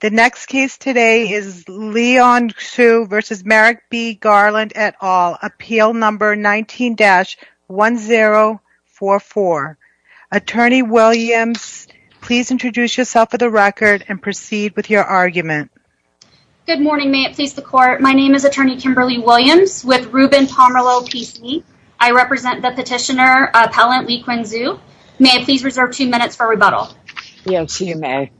The next case today is Leon Xu v. Merrick B. Garland, et al., Appeal No. 19-1044. Attorney Williams, please introduce yourself for the record and proceed with your argument. Good morning, may it please the Court. My name is Attorney Kimberly Williams with Ruben Pomerleau PC. I represent the petitioner, Appellant Li-Quan Xu. May I please reserve two minutes for rebuttal? Yes, you may.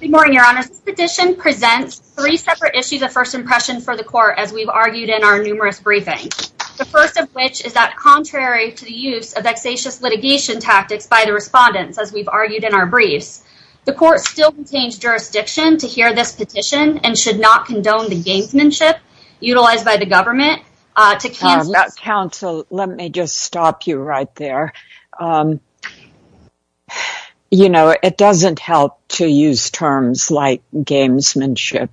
Good morning, Your Honor. This petition presents three separate issues of first impression for the Court, as we've argued in our numerous briefings. The first of which is that contrary to the use of vexatious litigation tactics by the respondents, as we've argued in our briefs, the Court still contains jurisdiction to hear this petition and should not condone the gamesmanship utilized by the government to cancel... You know, it doesn't help to use terms like gamesmanship.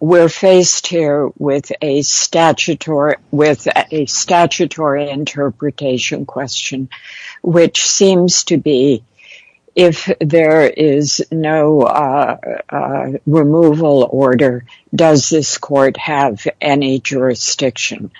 We're faced here with a statutory interpretation question, which seems to be, if there is no removal order, does this Court have any jurisdiction?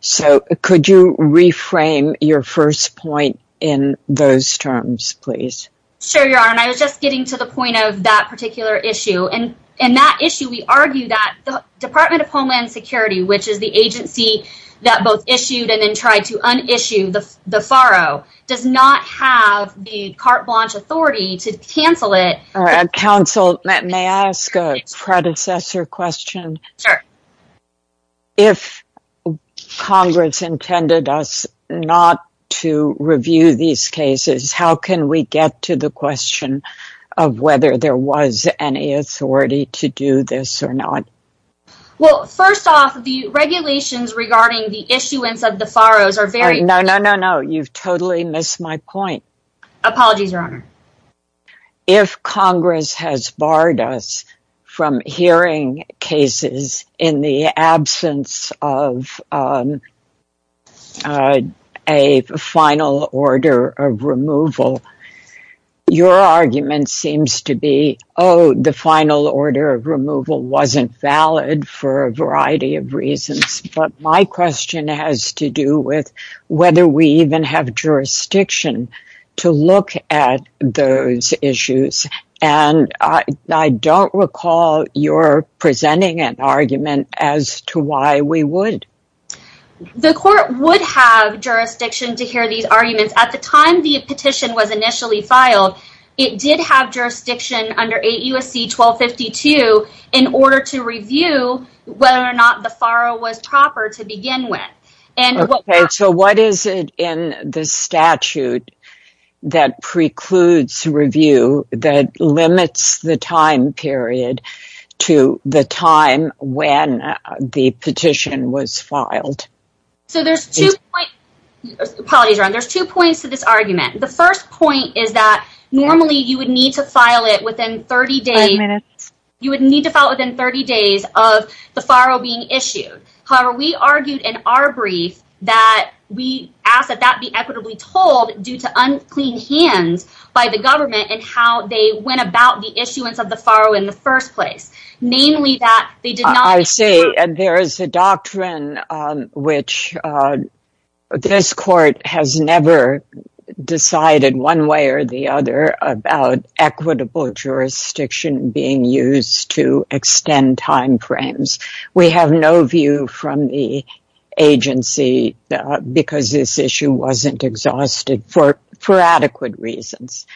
So, could you reframe your first point in those terms, please? Sure, Your Honor. I was just getting to the point of that particular issue. In that issue, we argue that the Department of Homeland Security, which is the agency that both issued and then tried to un-issue the farro, does not have the carte blanche authority to cancel it. Counsel, may I ask a predecessor question? Sure. If Congress intended us not to review these cases, how can we get to the question of whether there was any authority to do this or not? Well, first off, the regulations regarding the issuance of the farros are very... No, no, no, no. You've totally missed my point. Apologies, Your Honor. If Congress has barred us from hearing cases in the absence of a final order of removal, your argument seems to be, oh, the final order of removal wasn't valid for a variety of reasons. But my question has to do with whether we even have jurisdiction to look at those issues. And I don't recall your presenting an argument as to why we would. The court would have jurisdiction to hear these arguments. At the time the petition was initially filed, it did have jurisdiction under 8 U.S.C. 1252 in order to review whether or not the farro was proper to begin with. Okay, so what is it in the statute that precludes review, that limits the time period to the time when the petition was filed? So there's two points to this argument. The first point is that normally you would need to file it within 30 days of the farro being issued. However, we argued in our brief that we asked that that be equitably told due to unclean hands by the government in how they went about the issuance of the farro in the first place. I see. And there is a doctrine which this court has never decided one way or the other about equitable jurisdiction being used to extend time frames. We have no view from the agency because this issue wasn't exhausted for adequate reasons.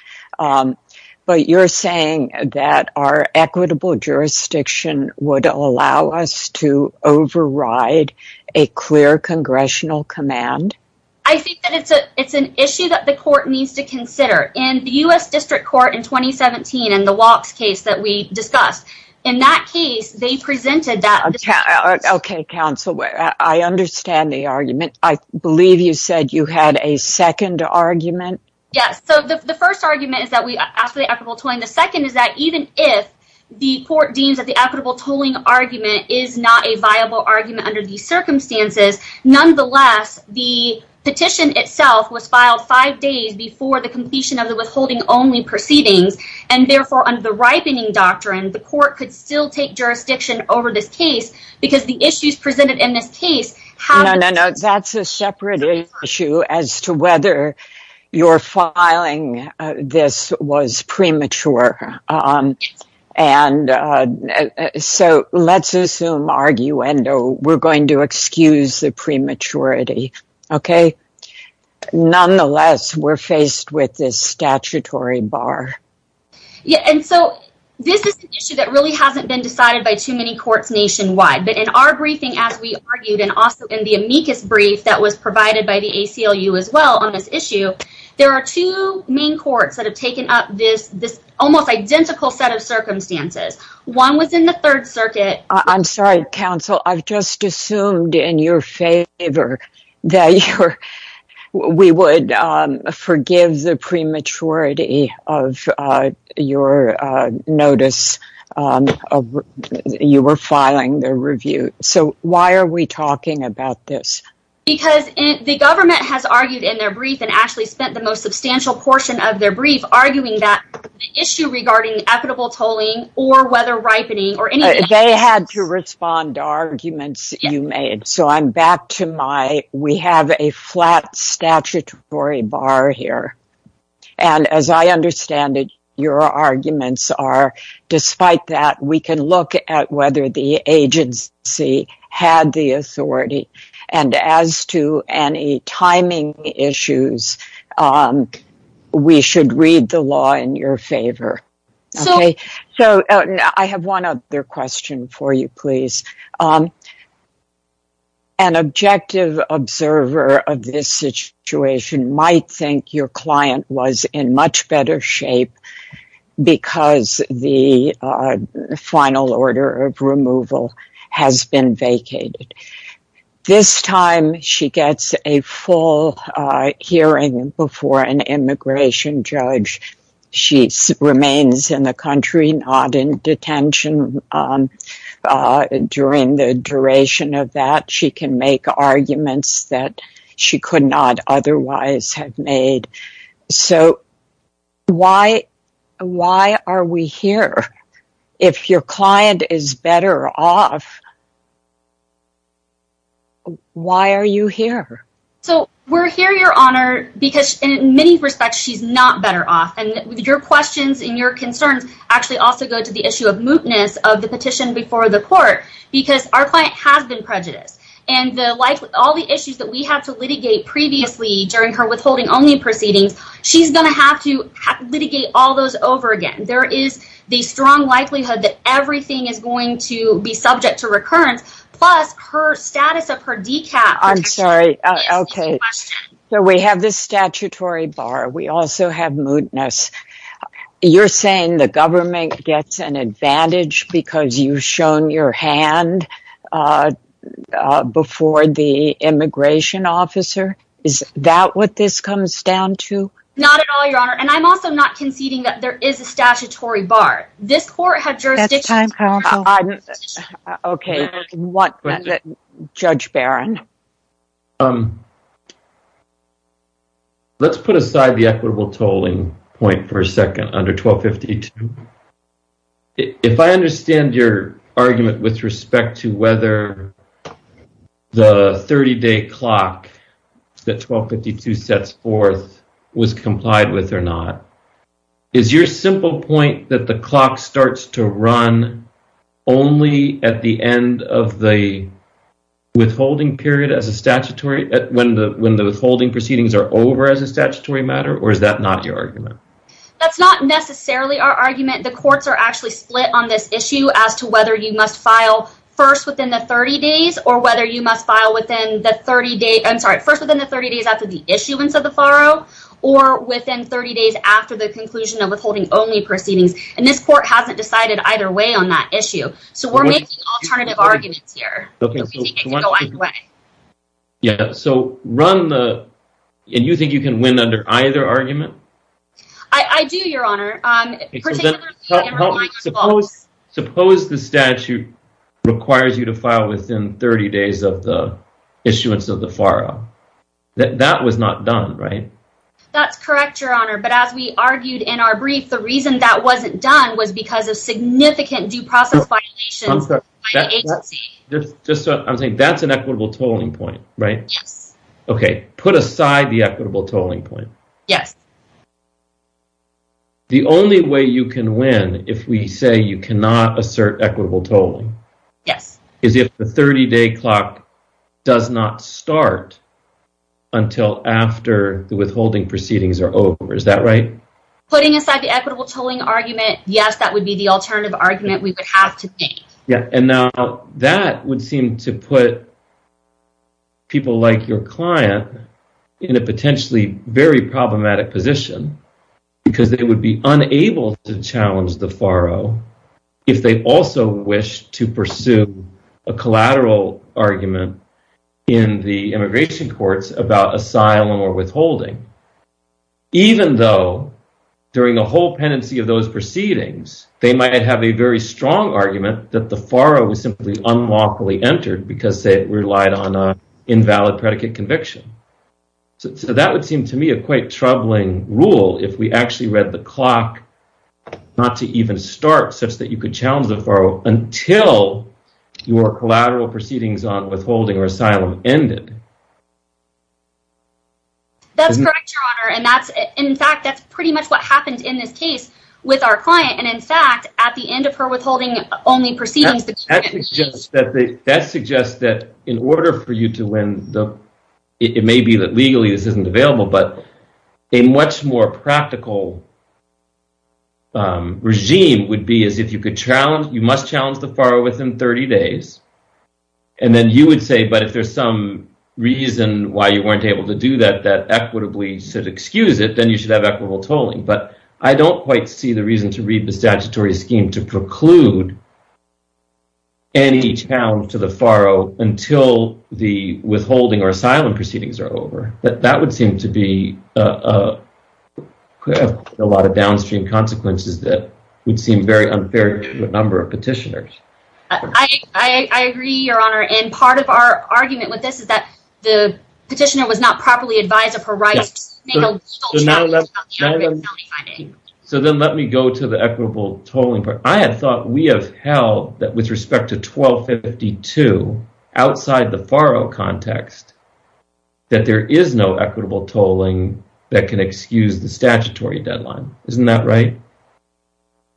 But you're saying that our equitable jurisdiction would allow us to override a clear congressional command? I think that it's an issue that the court needs to consider. In the U.S. District Court in 2017 in the walks case that we discussed, in that case they presented that. Okay, counsel, I understand the argument. I believe you said you had a second argument? Yes. So the first argument is that we asked for the equitable tolling. The second is that even if the court deems that the equitable tolling argument is not a viable argument under these circumstances, nonetheless, the petition itself was filed five days before the completion of the withholding only proceedings. And therefore, under the ripening doctrine, the court could still take jurisdiction over this case because the issues presented in this case have... No, no, no, that's a separate issue as to whether your filing this was premature. And so let's assume, arguendo, we're going to excuse the prematurity, okay? Nonetheless, we're faced with this statutory bar. Yeah, and so this is an issue that really hasn't been decided by too many courts nationwide. But in our briefing, as we argued, and also in the amicus brief that was provided by the ACLU as well on this issue, there are two main courts that have taken up this almost identical set of circumstances. One was in the Third Circuit. I'm sorry, counsel. I've just assumed in your favor that we would forgive the prematurity of your notice of you were filing the review. So why are we talking about this? Because the government has argued in their brief and actually spent the most substantial portion of their brief arguing that the issue regarding equitable tolling or whether ripening or anything... They had to respond to arguments that you made. So I'm back to my, we have a flat statutory bar here. And as I understand it, your arguments are, despite that, we can look at whether the agency had the authority. And as to any timing issues, we should read the law in your favor. So I have one other question for you, please. An objective observer of this situation might think your client was in much better shape because the final order of removal has been vacated. This time, she gets a full hearing before an immigration judge. She remains in the country, not in detention. During the duration of that, she can make arguments that she could not otherwise have made. So why are we here? If your client is better off, why are you here? So we're here, Your Honor, because in many respects, she's not better off. And your questions and your concerns actually also go to the issue of mootness of the petition before the court because our client has been prejudiced. And like all the issues that we have to litigate previously during her withholding only proceedings, she's going to have to litigate all those over again. There is the strong likelihood that everything is going to be subject to recurrence. Plus her status of her decaf. I'm sorry. OK, so we have this statutory bar. We also have mootness. You're saying the government gets an advantage because you've shown your hand before the immigration officer. Is that what this comes down to? Not at all, Your Honor. And I'm also not conceding that there is a statutory bar. This court has jurisdiction. OK, Judge Barron. Let's put aside the equitable tolling point for a second under 1252. If I understand your argument with respect to whether the 30-day clock that 1252 sets forth was complied with or not, is your simple point that the clock starts to run only at the end of the withholding period when the withholding proceedings are over as a statutory matter, or is that not your argument? That's not necessarily our argument. The courts are actually split on this issue as to whether you must file first within the 30 days or whether you must file first within the 30 days after the issuance of the faro or within 30 days after the conclusion of withholding-only proceedings. And this court hasn't decided either way on that issue. So we're making alternative arguments here. Yeah. So run the – and you think you can win under either argument? I do, Your Honor. Suppose the statute requires you to file within 30 days of the issuance of the faro. That was not done, right? That's correct, Your Honor. But as we argued in our brief, the reason that wasn't done was because of significant due process violations by the agency. I'm saying that's an equitable tolling point, right? Yes. Okay. Put aside the equitable tolling point. Yes. The only way you can win if we say you cannot assert equitable tolling is if the 30-day clock does not start until after the withholding proceedings are over. Is that right? Putting aside the equitable tolling argument, yes, that would be the alternative argument we would have to make. Yeah. And now that would seem to put people like your client in a potentially very problematic position because they would be unable to challenge the faro if they also wish to pursue a collateral argument in the immigration courts about asylum or withholding. Even though during the whole pendency of those proceedings, they might have a very strong argument that the faro was simply unlawfully entered because it relied on an invalid predicate conviction. So that would seem to me a quite troubling rule if we actually read the clock not to even start such that you could challenge the faro until your collateral proceedings on withholding or asylum ended. That's correct, Your Honor. And in fact, that's pretty much what happened in this case with our client. And in fact, at the end of her withholding only proceedings… That suggests that in order for you to win, it may be that legally this isn't available. But a much more practical regime would be as if you must challenge the faro within 30 days. And then you would say, but if there's some reason why you weren't able to do that, that equitably should excuse it, then you should have equitable tolling. But I don't quite see the reason to read the statutory scheme to preclude any challenge to the faro until the withholding or asylum proceedings are over. That would seem to be a lot of downstream consequences that would seem very unfair to a number of petitioners. I agree, Your Honor. And part of our argument with this is that the petitioner was not properly advised of her rights. So then let me go to the equitable tolling part. I had thought we have held that with respect to 1252, outside the faro context, that there is no equitable tolling that can excuse the statutory deadline. Isn't that right?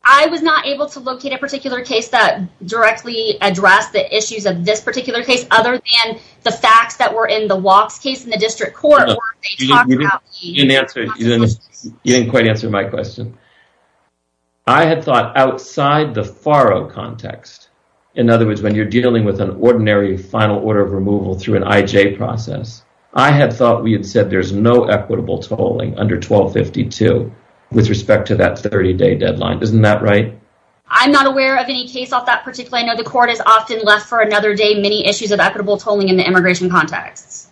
I was not able to locate a particular case that directly addressed the issues of this particular case, other than the facts that were in the walks case in the district court where they talked about the consequences. You didn't quite answer my question. I had thought outside the faro context, in other words, when you're dealing with an ordinary final order of removal through an IJ process, I had thought we had said there's no equitable tolling under 1252 with respect to that 30-day deadline. Isn't that right? I'm not aware of any case of that particular. I know the court has often left for another day many issues of equitable tolling in the immigration context.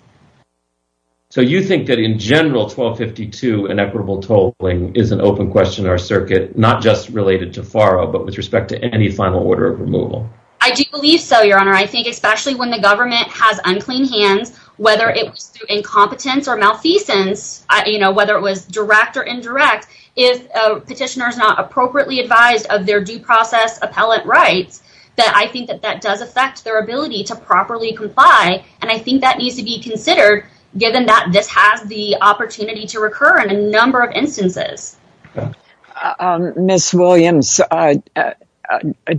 So you think that in general, 1252 and equitable tolling is an open question in our circuit, not just related to faro, but with respect to any final order of removal? I do believe so, Your Honor. I think especially when the government has unclean hands, whether it was through incompetence or malfeasance, whether it was direct or indirect, if a petitioner is not appropriately advised of their due process appellate rights, that I think that that does affect their ability to properly comply. And I think that needs to be considered, given that this has the opportunity to recur in a number of instances. Ms. Williams,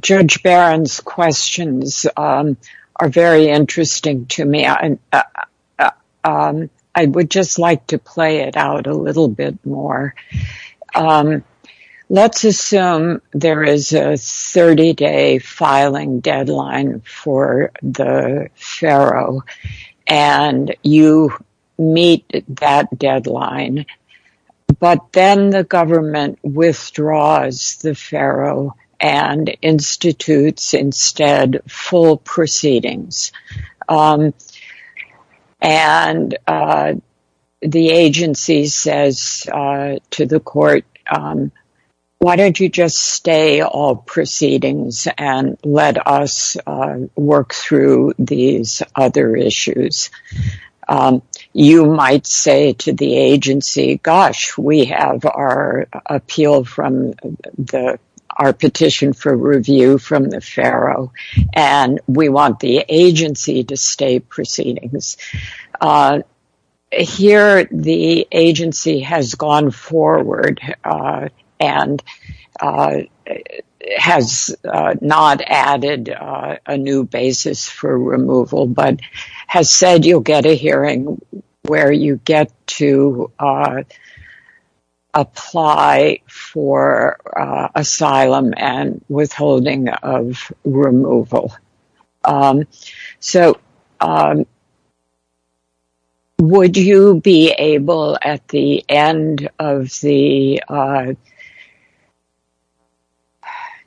Judge Barron's questions are very interesting to me. I would just like to play it out a little bit more. Let's assume there is a 30-day filing deadline for the faro, and you meet that deadline. But then the government withdraws the faro and institutes instead full proceedings. And the agency says to the court, why don't you just stay all proceedings and let us work through these other issues? You might say to the agency, gosh, we have our petition for review from the faro, and we want the agency to stay proceedings. Here, the agency has gone forward and has not added a new basis for removal, but has said you'll get a hearing where you get to apply for asylum and withholding of removal. So, would you be able, at the end of the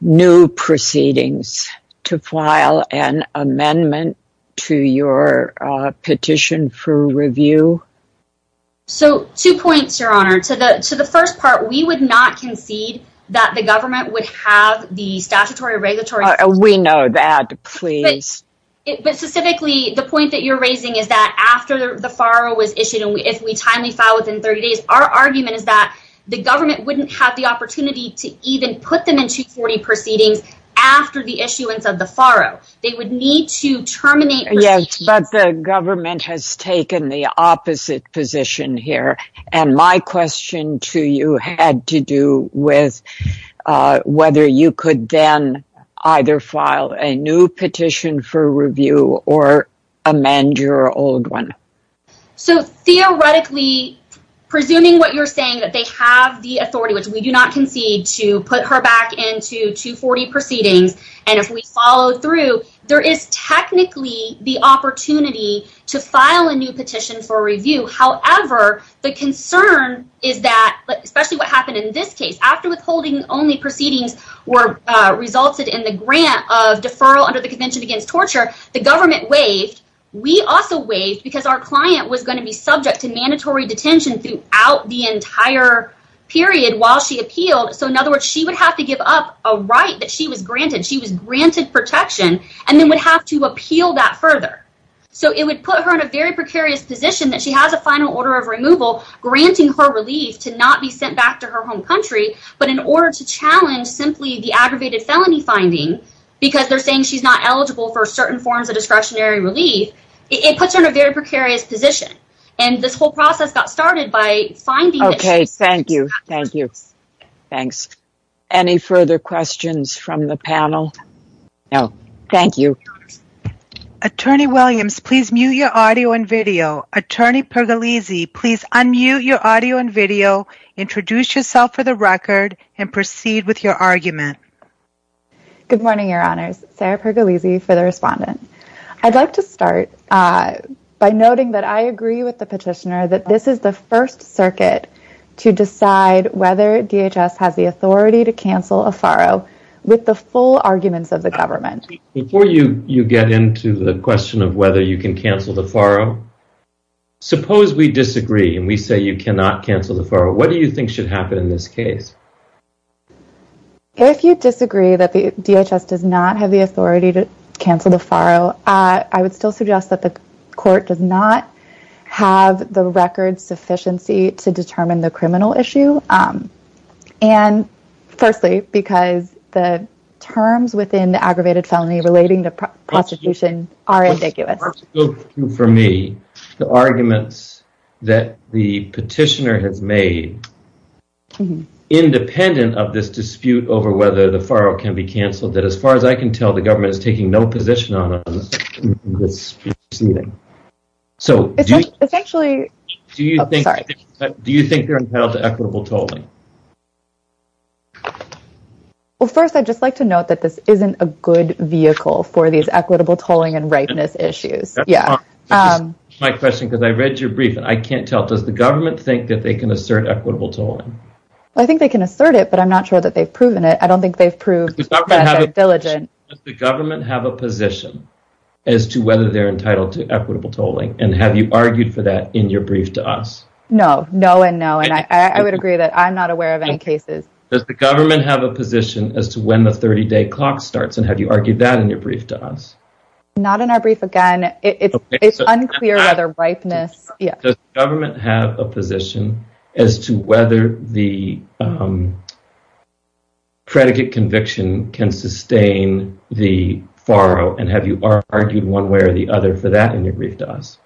new proceedings, to file an amendment to your petition for review? So, two points, Your Honor. To the first part, we would not concede that the government would have the statutory or regulatory... We know that, please. But specifically, the point that you're raising is that after the faro was issued, and if we timely file within 30 days, our argument is that the government wouldn't have the opportunity to even put them in 240 proceedings after the issuance of the faro. They would need to terminate... Yes, but the government has taken the opposite position here. And my question to you had to do with whether you could then either file a new petition for review or amend your old one. So, theoretically, presuming what you're saying, that they have the authority, which we do not concede, to put her back into 240 proceedings, and if we follow through, there is technically the opportunity to file a new petition for review. However, the concern is that... Especially what happened in this case. After withholding only proceedings resulted in the grant of deferral under the Convention Against Torture, the government waived. We also waived because our client was going to be subject to mandatory detention throughout the entire period while she appealed. So, in other words, she would have to give up a right that she was granted. She was granted protection, and then would have to appeal that further. So, it would put her in a very precarious position that she has a final order of removal granting her relief to not be sent back to her home country, but in order to challenge simply the aggravated felony finding, because they're saying she's not eligible for certain forms of discretionary relief, it puts her in a very precarious position. And this whole process got started by finding... Okay, thank you. Thank you. Thanks. Any further questions from the panel? No. Thank you. Attorney Williams, please mute your audio and video. Attorney Pergolesi, please unmute your audio and video, introduce yourself for the record, and proceed with your argument. Good morning, Your Honors. Sarah Pergolesi for the Respondent. I'd like to start by noting that I agree with the petitioner that this is the first circuit to decide whether DHS has the authority to cancel a farro with the full arguments of the government. Before you get into the question of whether you can cancel the farro, suppose we disagree and we say you cannot cancel the farro. What do you think should happen in this case? If you disagree that DHS does not have the authority to cancel the farro, I would still suggest that the court does not have the record sufficiency to determine the criminal issue. Firstly, because the terms within the aggravated felony relating to prostitution are ambiguous. For me, the arguments that the petitioner has made, independent of this dispute over whether the farro can be canceled, that as far as I can tell, the government is taking no position on this proceeding. Do you think they're entitled to equitable tolling? First, I'd just like to note that this isn't a good vehicle for these equitable tolling and ripeness issues. That's my question, because I read your brief, and I can't tell. Does the government think that they can assert equitable tolling? I think they can assert it, but I'm not sure that they've proven it. I don't think they've proved that they're diligent. Does the government have a position as to whether they're entitled to equitable tolling, and have you argued for that in your brief to us? No, no and no, and I would agree that I'm not aware of any cases. Does the government have a position as to when the 30-day clock starts, and have you argued that in your brief to us? Not in our brief again. It's unclear whether ripeness... Does the government have a position as to whether the predicate conviction can sustain the furrow, and have you argued one way or the other for that in your brief to us?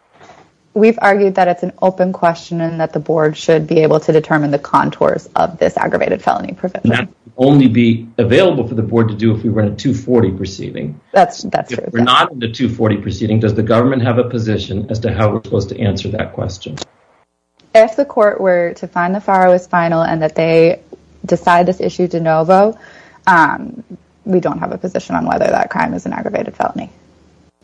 We've argued that it's an open question and that the board should be able to determine the contours of this aggravated felony provision. That would only be available for the board to do if we were in a 240 proceeding. That's true. If we're not in a 240 proceeding, does the government have a position as to how we're supposed to answer that question? If the court were to find the furrow is final and that they decide this issue de novo, we don't have a position on whether that crime is an aggravated felony.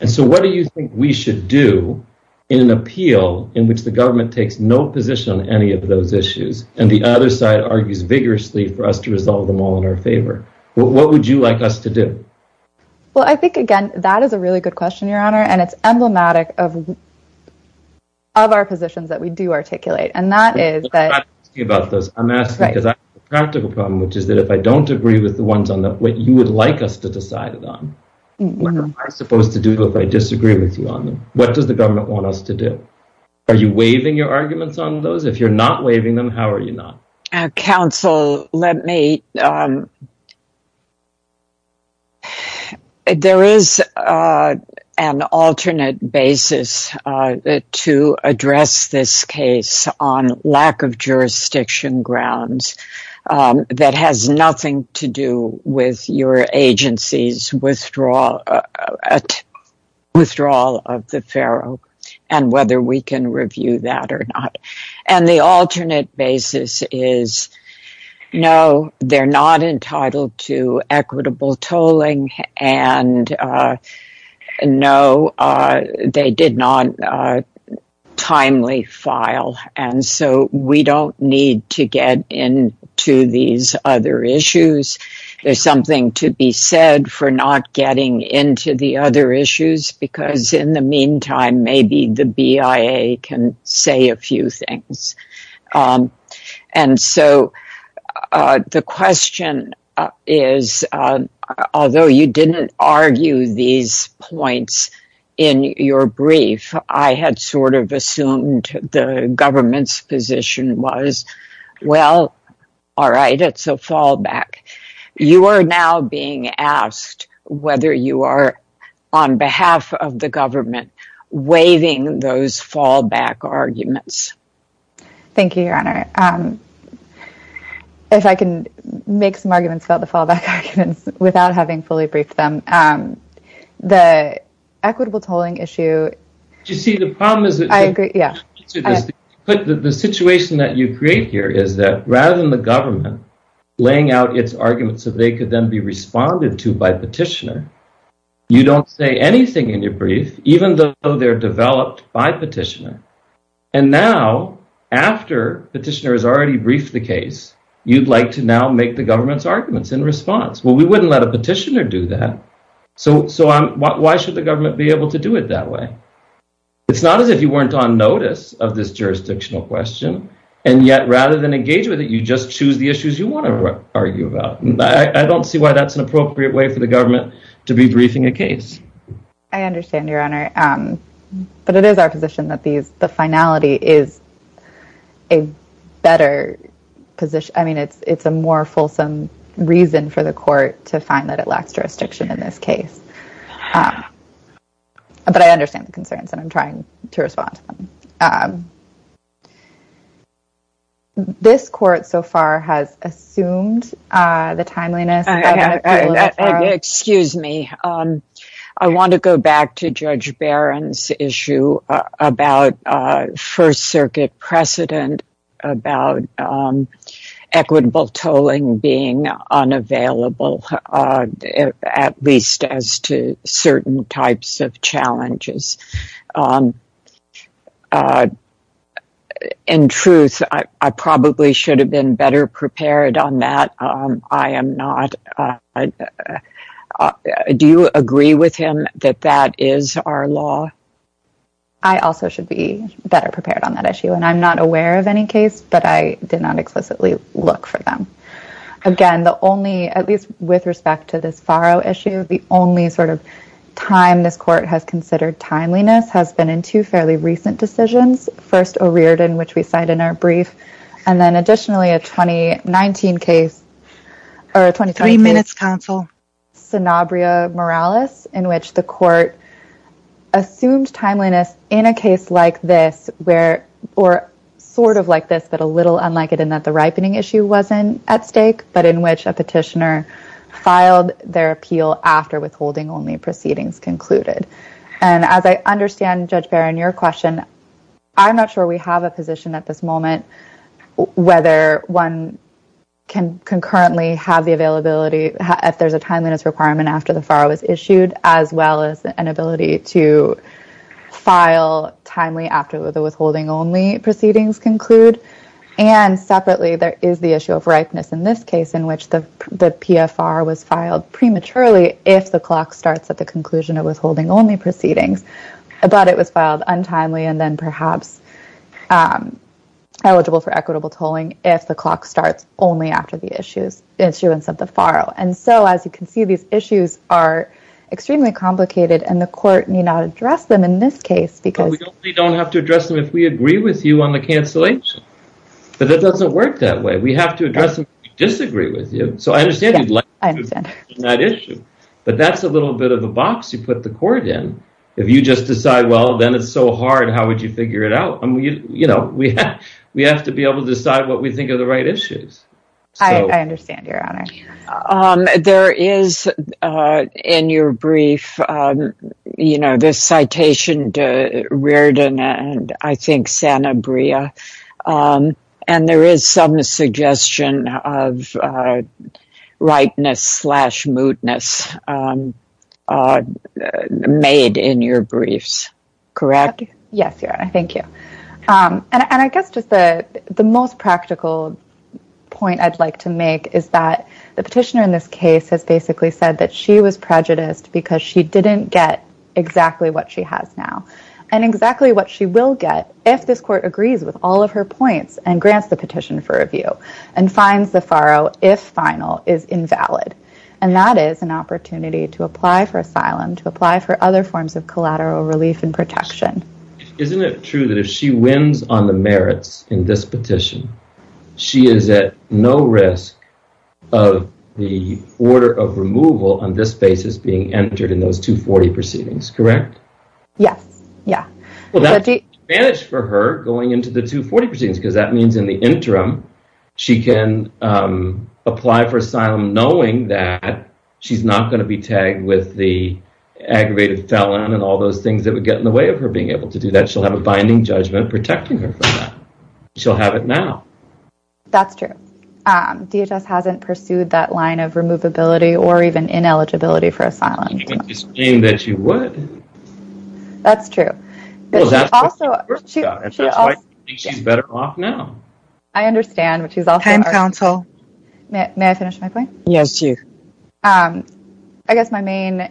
And so what do you think we should do in an appeal in which the government takes no position on any of those issues, and the other side argues vigorously for us to resolve them all in our favor? What would you like us to do? Well, I think, again, that is a really good question, Your Honor, and it's emblematic of our positions that we do articulate. And that is that... I'm asking because I have a practical problem, which is that if I don't agree with the ones on what you would like us to decide on, what am I supposed to do if I disagree with you on them? What does the government want us to do? Are you waiving your arguments on those? If you're not waiving them, how are you not? Counsel, let me... There is an alternate basis to address this case on lack of jurisdiction grounds that has nothing to do with your agency's withdrawal of the furrow and whether we can review that or not. And the alternate basis is, no, they're not entitled to equitable tolling, and no, they did not timely file. And so we don't need to get into these other issues. There's something to be said for not getting into the other issues, because in the meantime, maybe the BIA can say a few things. And so the question is, although you didn't argue these points in your brief, I had sort of assumed the government's position was, well, all right, it's a fallback. You are now being asked whether you are, on behalf of the government, waiving those fallback arguments. If I can make some arguments about the fallback arguments without having fully briefed them. The equitable tolling issue... You see, the problem is that the situation that you create here is that rather than the government laying out its arguments so they could then be responded to by petitioner, you don't say anything in your brief, even though they're developed by petitioner. And now, after petitioner has already briefed the case, you'd like to now make the government's arguments in response. Well, we wouldn't let a petitioner do that. So why should the government be able to do it that way? It's not as if you weren't on notice of this jurisdictional question. And yet, rather than engage with it, you just choose the issues you want to argue about. I don't see why that's an appropriate way for the government to be briefing a case. I understand, Your Honor. But it is our position that the finality is a better position. I mean, it's a more fulsome reason for the court to find that it lacks jurisdiction in this case. But I understand the concerns, and I'm trying to respond to them. This court so far has assumed the timeliness... Excuse me. I want to go back to Judge Barron's issue about First Circuit precedent, about equitable tolling being unavailable, at least as to certain types of challenges. In truth, I probably should have been better prepared on that. I am not. Do you agree with him that that is our law? I also should be better prepared on that issue. And I'm not aware of any case, but I did not explicitly look for them. Again, the only, at least with respect to this Farrow issue, the only sort of time this court has considered timeliness has been in two fairly recent decisions. First, O'Riordan, which we cite in our brief. And then additionally, a 2019 case... Three minutes, counsel. ...Sanabria Morales, in which the court assumed timeliness in a case like this, or sort of like this, but a little unlike it in that the ripening issue wasn't at stake, but in which a petitioner filed their appeal after withholding-only proceedings concluded. And as I understand, Judge Barron, your question, I'm not sure we have a position at this moment whether one can concurrently have the availability, if there's a timeliness requirement after the Farrow was issued, as well as an ability to file timely after the withholding-only proceedings conclude. And separately, there is the issue of ripeness in this case, in which the PFR was filed prematurely if the clock starts at the conclusion of withholding-only proceedings, but it was filed untimely and then perhaps eligible for equitable tolling if the clock starts only after the issuance of the Farrow. And so, as you can see, these issues are extremely complicated, and the court need not address them in this case because... But that doesn't work that way. We have to address them if we disagree with you. So I understand you'd like to address that issue, but that's a little bit of a box you put the court in. If you just decide, well, then it's so hard, how would you figure it out? We have to be able to decide what we think are the right issues. I understand, Your Honor. There is, in your brief, this citation to Riordan and, I think, Sanabria, and there is some suggestion of ripeness slash mootness made in your briefs, correct? Yes, Your Honor. Thank you. And I guess just the most practical point I'd like to make is that the petitioner in this case has basically said that she was prejudiced because she didn't get exactly what she has now and exactly what she will get if this court agrees with all of her points and grants the petition for review and finds the Farrow, if final, is invalid. And that is an opportunity to apply for asylum, to apply for other forms of collateral relief and protection. Isn't it true that if she wins on the merits in this petition, she is at no risk of the order of removal on this basis being entered in those 240 proceedings, correct? Yes. Yeah. Well, that's an advantage for her going into the 240 proceedings because that means in the interim she can apply for asylum knowing that she's not going to be tagged with the aggravated felon and all those things that would get in the way of her being able to do that. She'll have a binding judgment protecting her from that. She'll have it now. That's true. DHS hasn't pursued that line of removability or even ineligibility for asylum. That's true. She's better off now. I understand what she's all time counsel. May I finish my point? Yes. I guess my main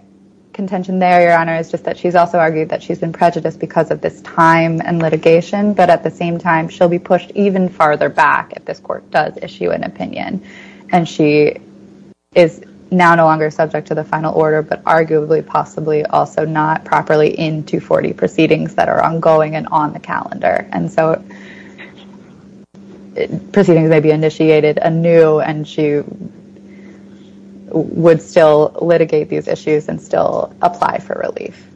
contention there, Your Honor, is just that she's also argued that she's been prejudiced because of this time and litigation. But at the same time, she'll be pushed even farther back if this court does issue an opinion. And she is now no longer subject to the final order, but arguably possibly also not properly in 240 proceedings that are ongoing and on the calendar. And so proceedings may be initiated anew and she would still litigate these issues and still apply for relief.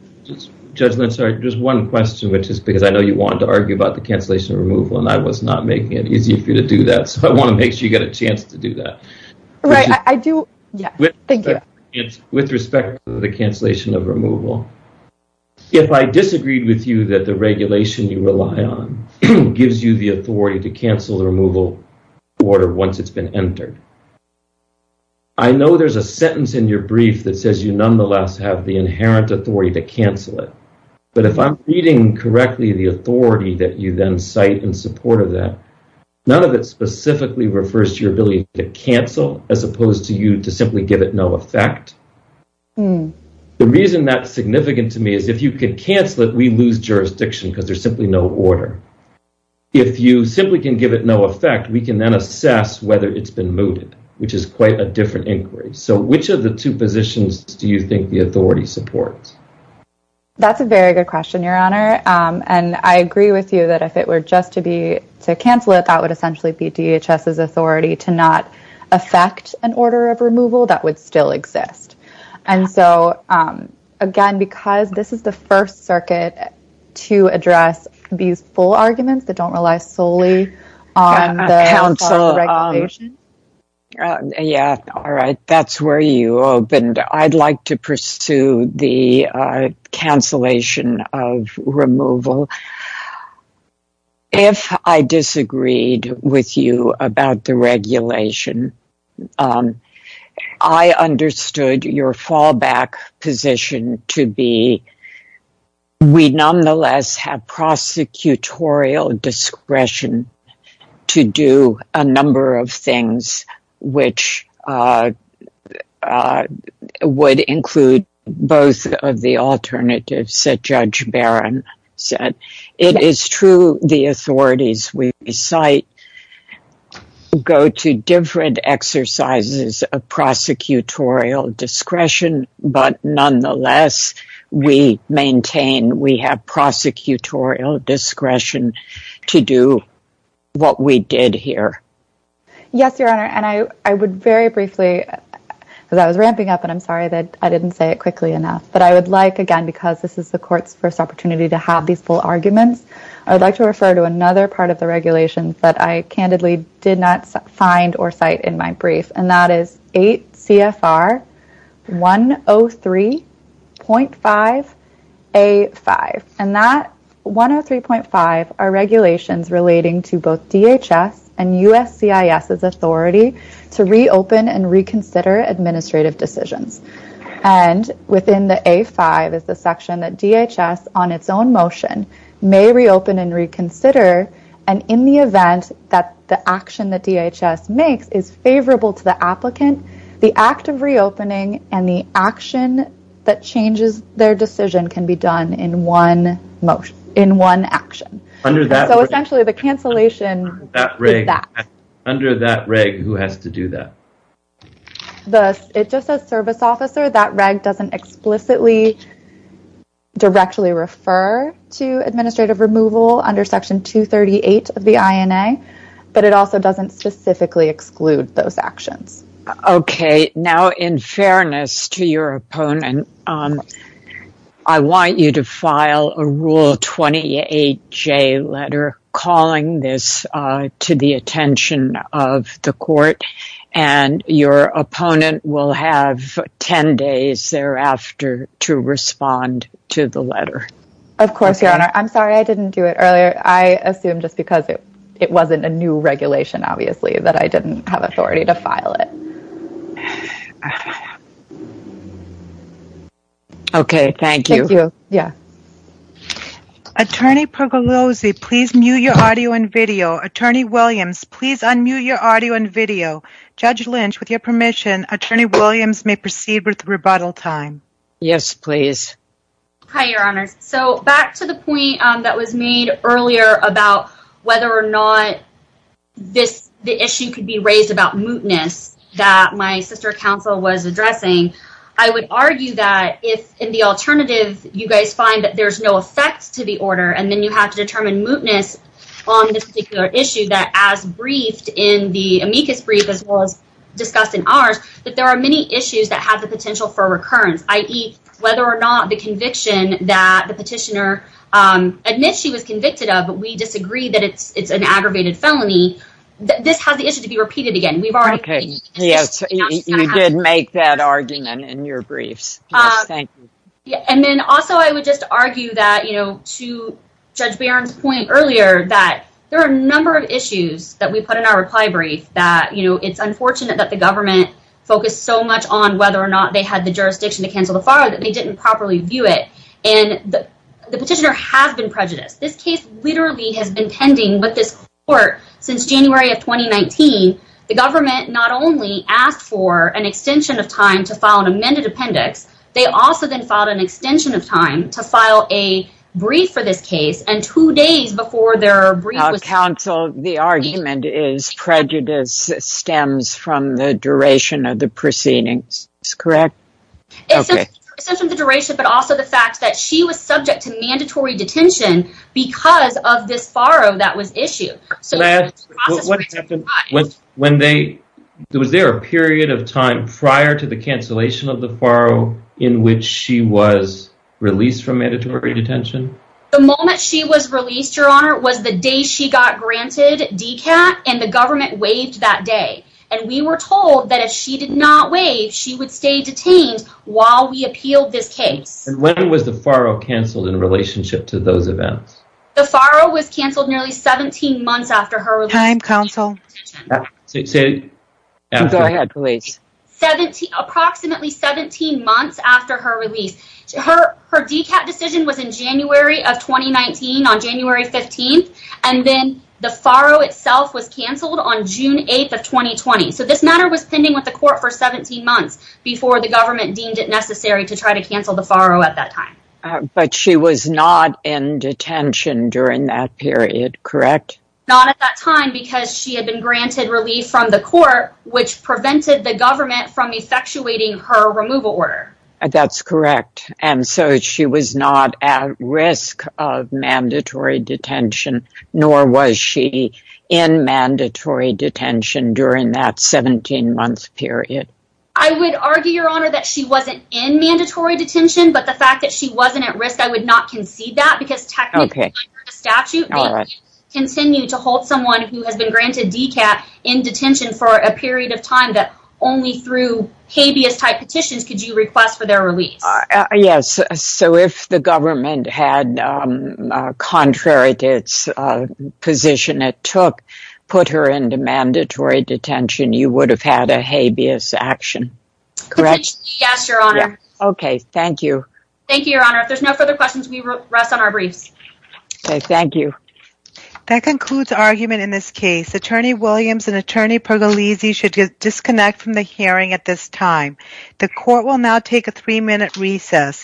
Just one question, which is because I know you want to argue about the cancellation of removal, and I was not making it easy for you to do that. So I want to make sure you get a chance to do that. Right. I do. Thank you. With respect to the cancellation of removal. If I disagreed with you that the regulation you rely on gives you the authority to cancel the removal order once it's been entered. I know there's a sentence in your brief that says you nonetheless have the inherent authority to cancel it. But if I'm reading correctly, the authority that you then cite in support of that, none of it specifically refers to your ability to cancel as opposed to you to simply give it no effect. The reason that's significant to me is if you could cancel it, we lose jurisdiction because there's simply no order. If you simply can give it no effect, we can then assess whether it's been mooted, which is quite a different inquiry. So which of the two positions do you think the authority supports? That's a very good question, Your Honor. And I agree with you that if it were just to be to cancel it, that would essentially be DHS's authority to not affect an order of removal that would still exist. And so, again, because this is the first circuit to address these full arguments that don't rely solely on the Council's regulation. Yeah, all right. That's where you opened. I'd like to pursue the cancellation of removal. If I disagreed with you about the regulation, I understood your fallback position to be we nonetheless have prosecutorial discretion to do a number of things, which would include both of the alternatives that Judge Barron said. It is true the authorities we cite go to different exercises of prosecutorial discretion. But nonetheless, we maintain we have prosecutorial discretion to do what we did here. Yes, Your Honor, and I would very briefly because I was ramping up and I'm sorry that I didn't say it quickly enough, but I would like again, because this is the court's first opportunity to have these full arguments. I would like to refer to another part of the regulations that I candidly did not find or cite in my brief. And that is 8 CFR 103.5A5. And that 103.5 are regulations relating to both DHS and USCIS's authority to reopen and reconsider administrative decisions. And within the A5 is the section that DHS on its own motion may reopen and reconsider. And in the event that the action that DHS makes is favorable to the applicant, the act of reopening and the action that changes their decision can be done in one motion in one action. So essentially the cancellation is that. Under that reg, who has to do that? It just says service officer. That reg doesn't explicitly directly refer to administrative removal under Section 238 of the INA, but it also doesn't specifically exclude those actions. OK, now, in fairness to your opponent, I want you to file a Rule 28J letter calling this to the attention of the court and your opponent will have 10 days thereafter to respond to the letter. Of course, Your Honor. I'm sorry I didn't do it earlier. I assumed just because it wasn't a new regulation, obviously, that I didn't have authority to file it. OK, thank you. Thank you. Yeah. Attorney Pergolosi, please mute your audio and video. Attorney Williams, please unmute your audio and video. Judge Lynch, with your permission, Attorney Williams may proceed with the rebuttal time. Yes, please. Hi, Your Honors. So back to the point that was made earlier about whether or not the issue could be raised about mootness that my sister counsel was addressing, I would argue that if in the alternative you guys find that there's no effect to the order and then you have to determine mootness on this particular issue, that as briefed in the amicus brief as well as discussed in ours, that there are many issues that have the potential for recurrence, i.e., whether or not the conviction that the petitioner admits she was convicted of, but we disagree that it's an aggravated felony, this has the issue to be repeated again. OK, yes, you did make that argument in your briefs. Thank you. And then also I would just argue that, you know, to Judge Barron's point earlier that there are a number of issues that we put in our reply brief that, you know, it's unfortunate that the government focused so much on whether or not they had the jurisdiction to cancel the file that they didn't properly view it. And the petitioner has been prejudiced. This case literally has been pending with this court since January of 2019. The government not only asked for an extension of time to file an amended appendix, they also then filed an extension of time to file a brief for this case, and two days before their brief was... Now, counsel, the argument is prejudice stems from the duration of the proceedings, correct? It stems from the duration, but also the fact that she was subject to mandatory detention because of this farrow that was issued. Was there a period of time prior to the cancellation of the farrow in which she was released from mandatory detention? The moment she was released, Your Honor, was the day she got granted DCAT, and the government waived that day. And we were told that if she did not waive, she would stay detained while we appealed this case. And when was the farrow canceled in relationship to those events? The farrow was canceled nearly 17 months after her release. Approximately 17 months after her release. Her DCAT decision was in January of 2019 on January 15th, and then the farrow itself was canceled on June 8th of 2020. So this matter was pending with the court for 17 months before the government deemed it necessary to try to cancel the farrow at that time. But she was not in detention during that period, correct? Not at that time, because she had been granted relief from the court, which prevented the government from effectuating her removal order. That's correct. And so she was not at risk of mandatory detention, nor was she in mandatory detention during that 17-month period. I would argue, Your Honor, that she wasn't in mandatory detention, but the fact that she wasn't at risk, I would not concede that, because technically under the statute, they can continue to hold someone who has been granted DCAT in detention for a period of time that only through habeas-type petitions could you request for their release. Yes, so if the government had, contrary to its position it took, put her into mandatory detention, you would have had a habeas action, correct? Yes, Your Honor. Okay, thank you. Thank you, Your Honor. If there's no further questions, we rest on our briefs. Okay, thank you. That concludes argument in this case. Attorney Williams and Attorney Pergolese should disconnect from the hearing at this time. The court will now take a three-minute recess.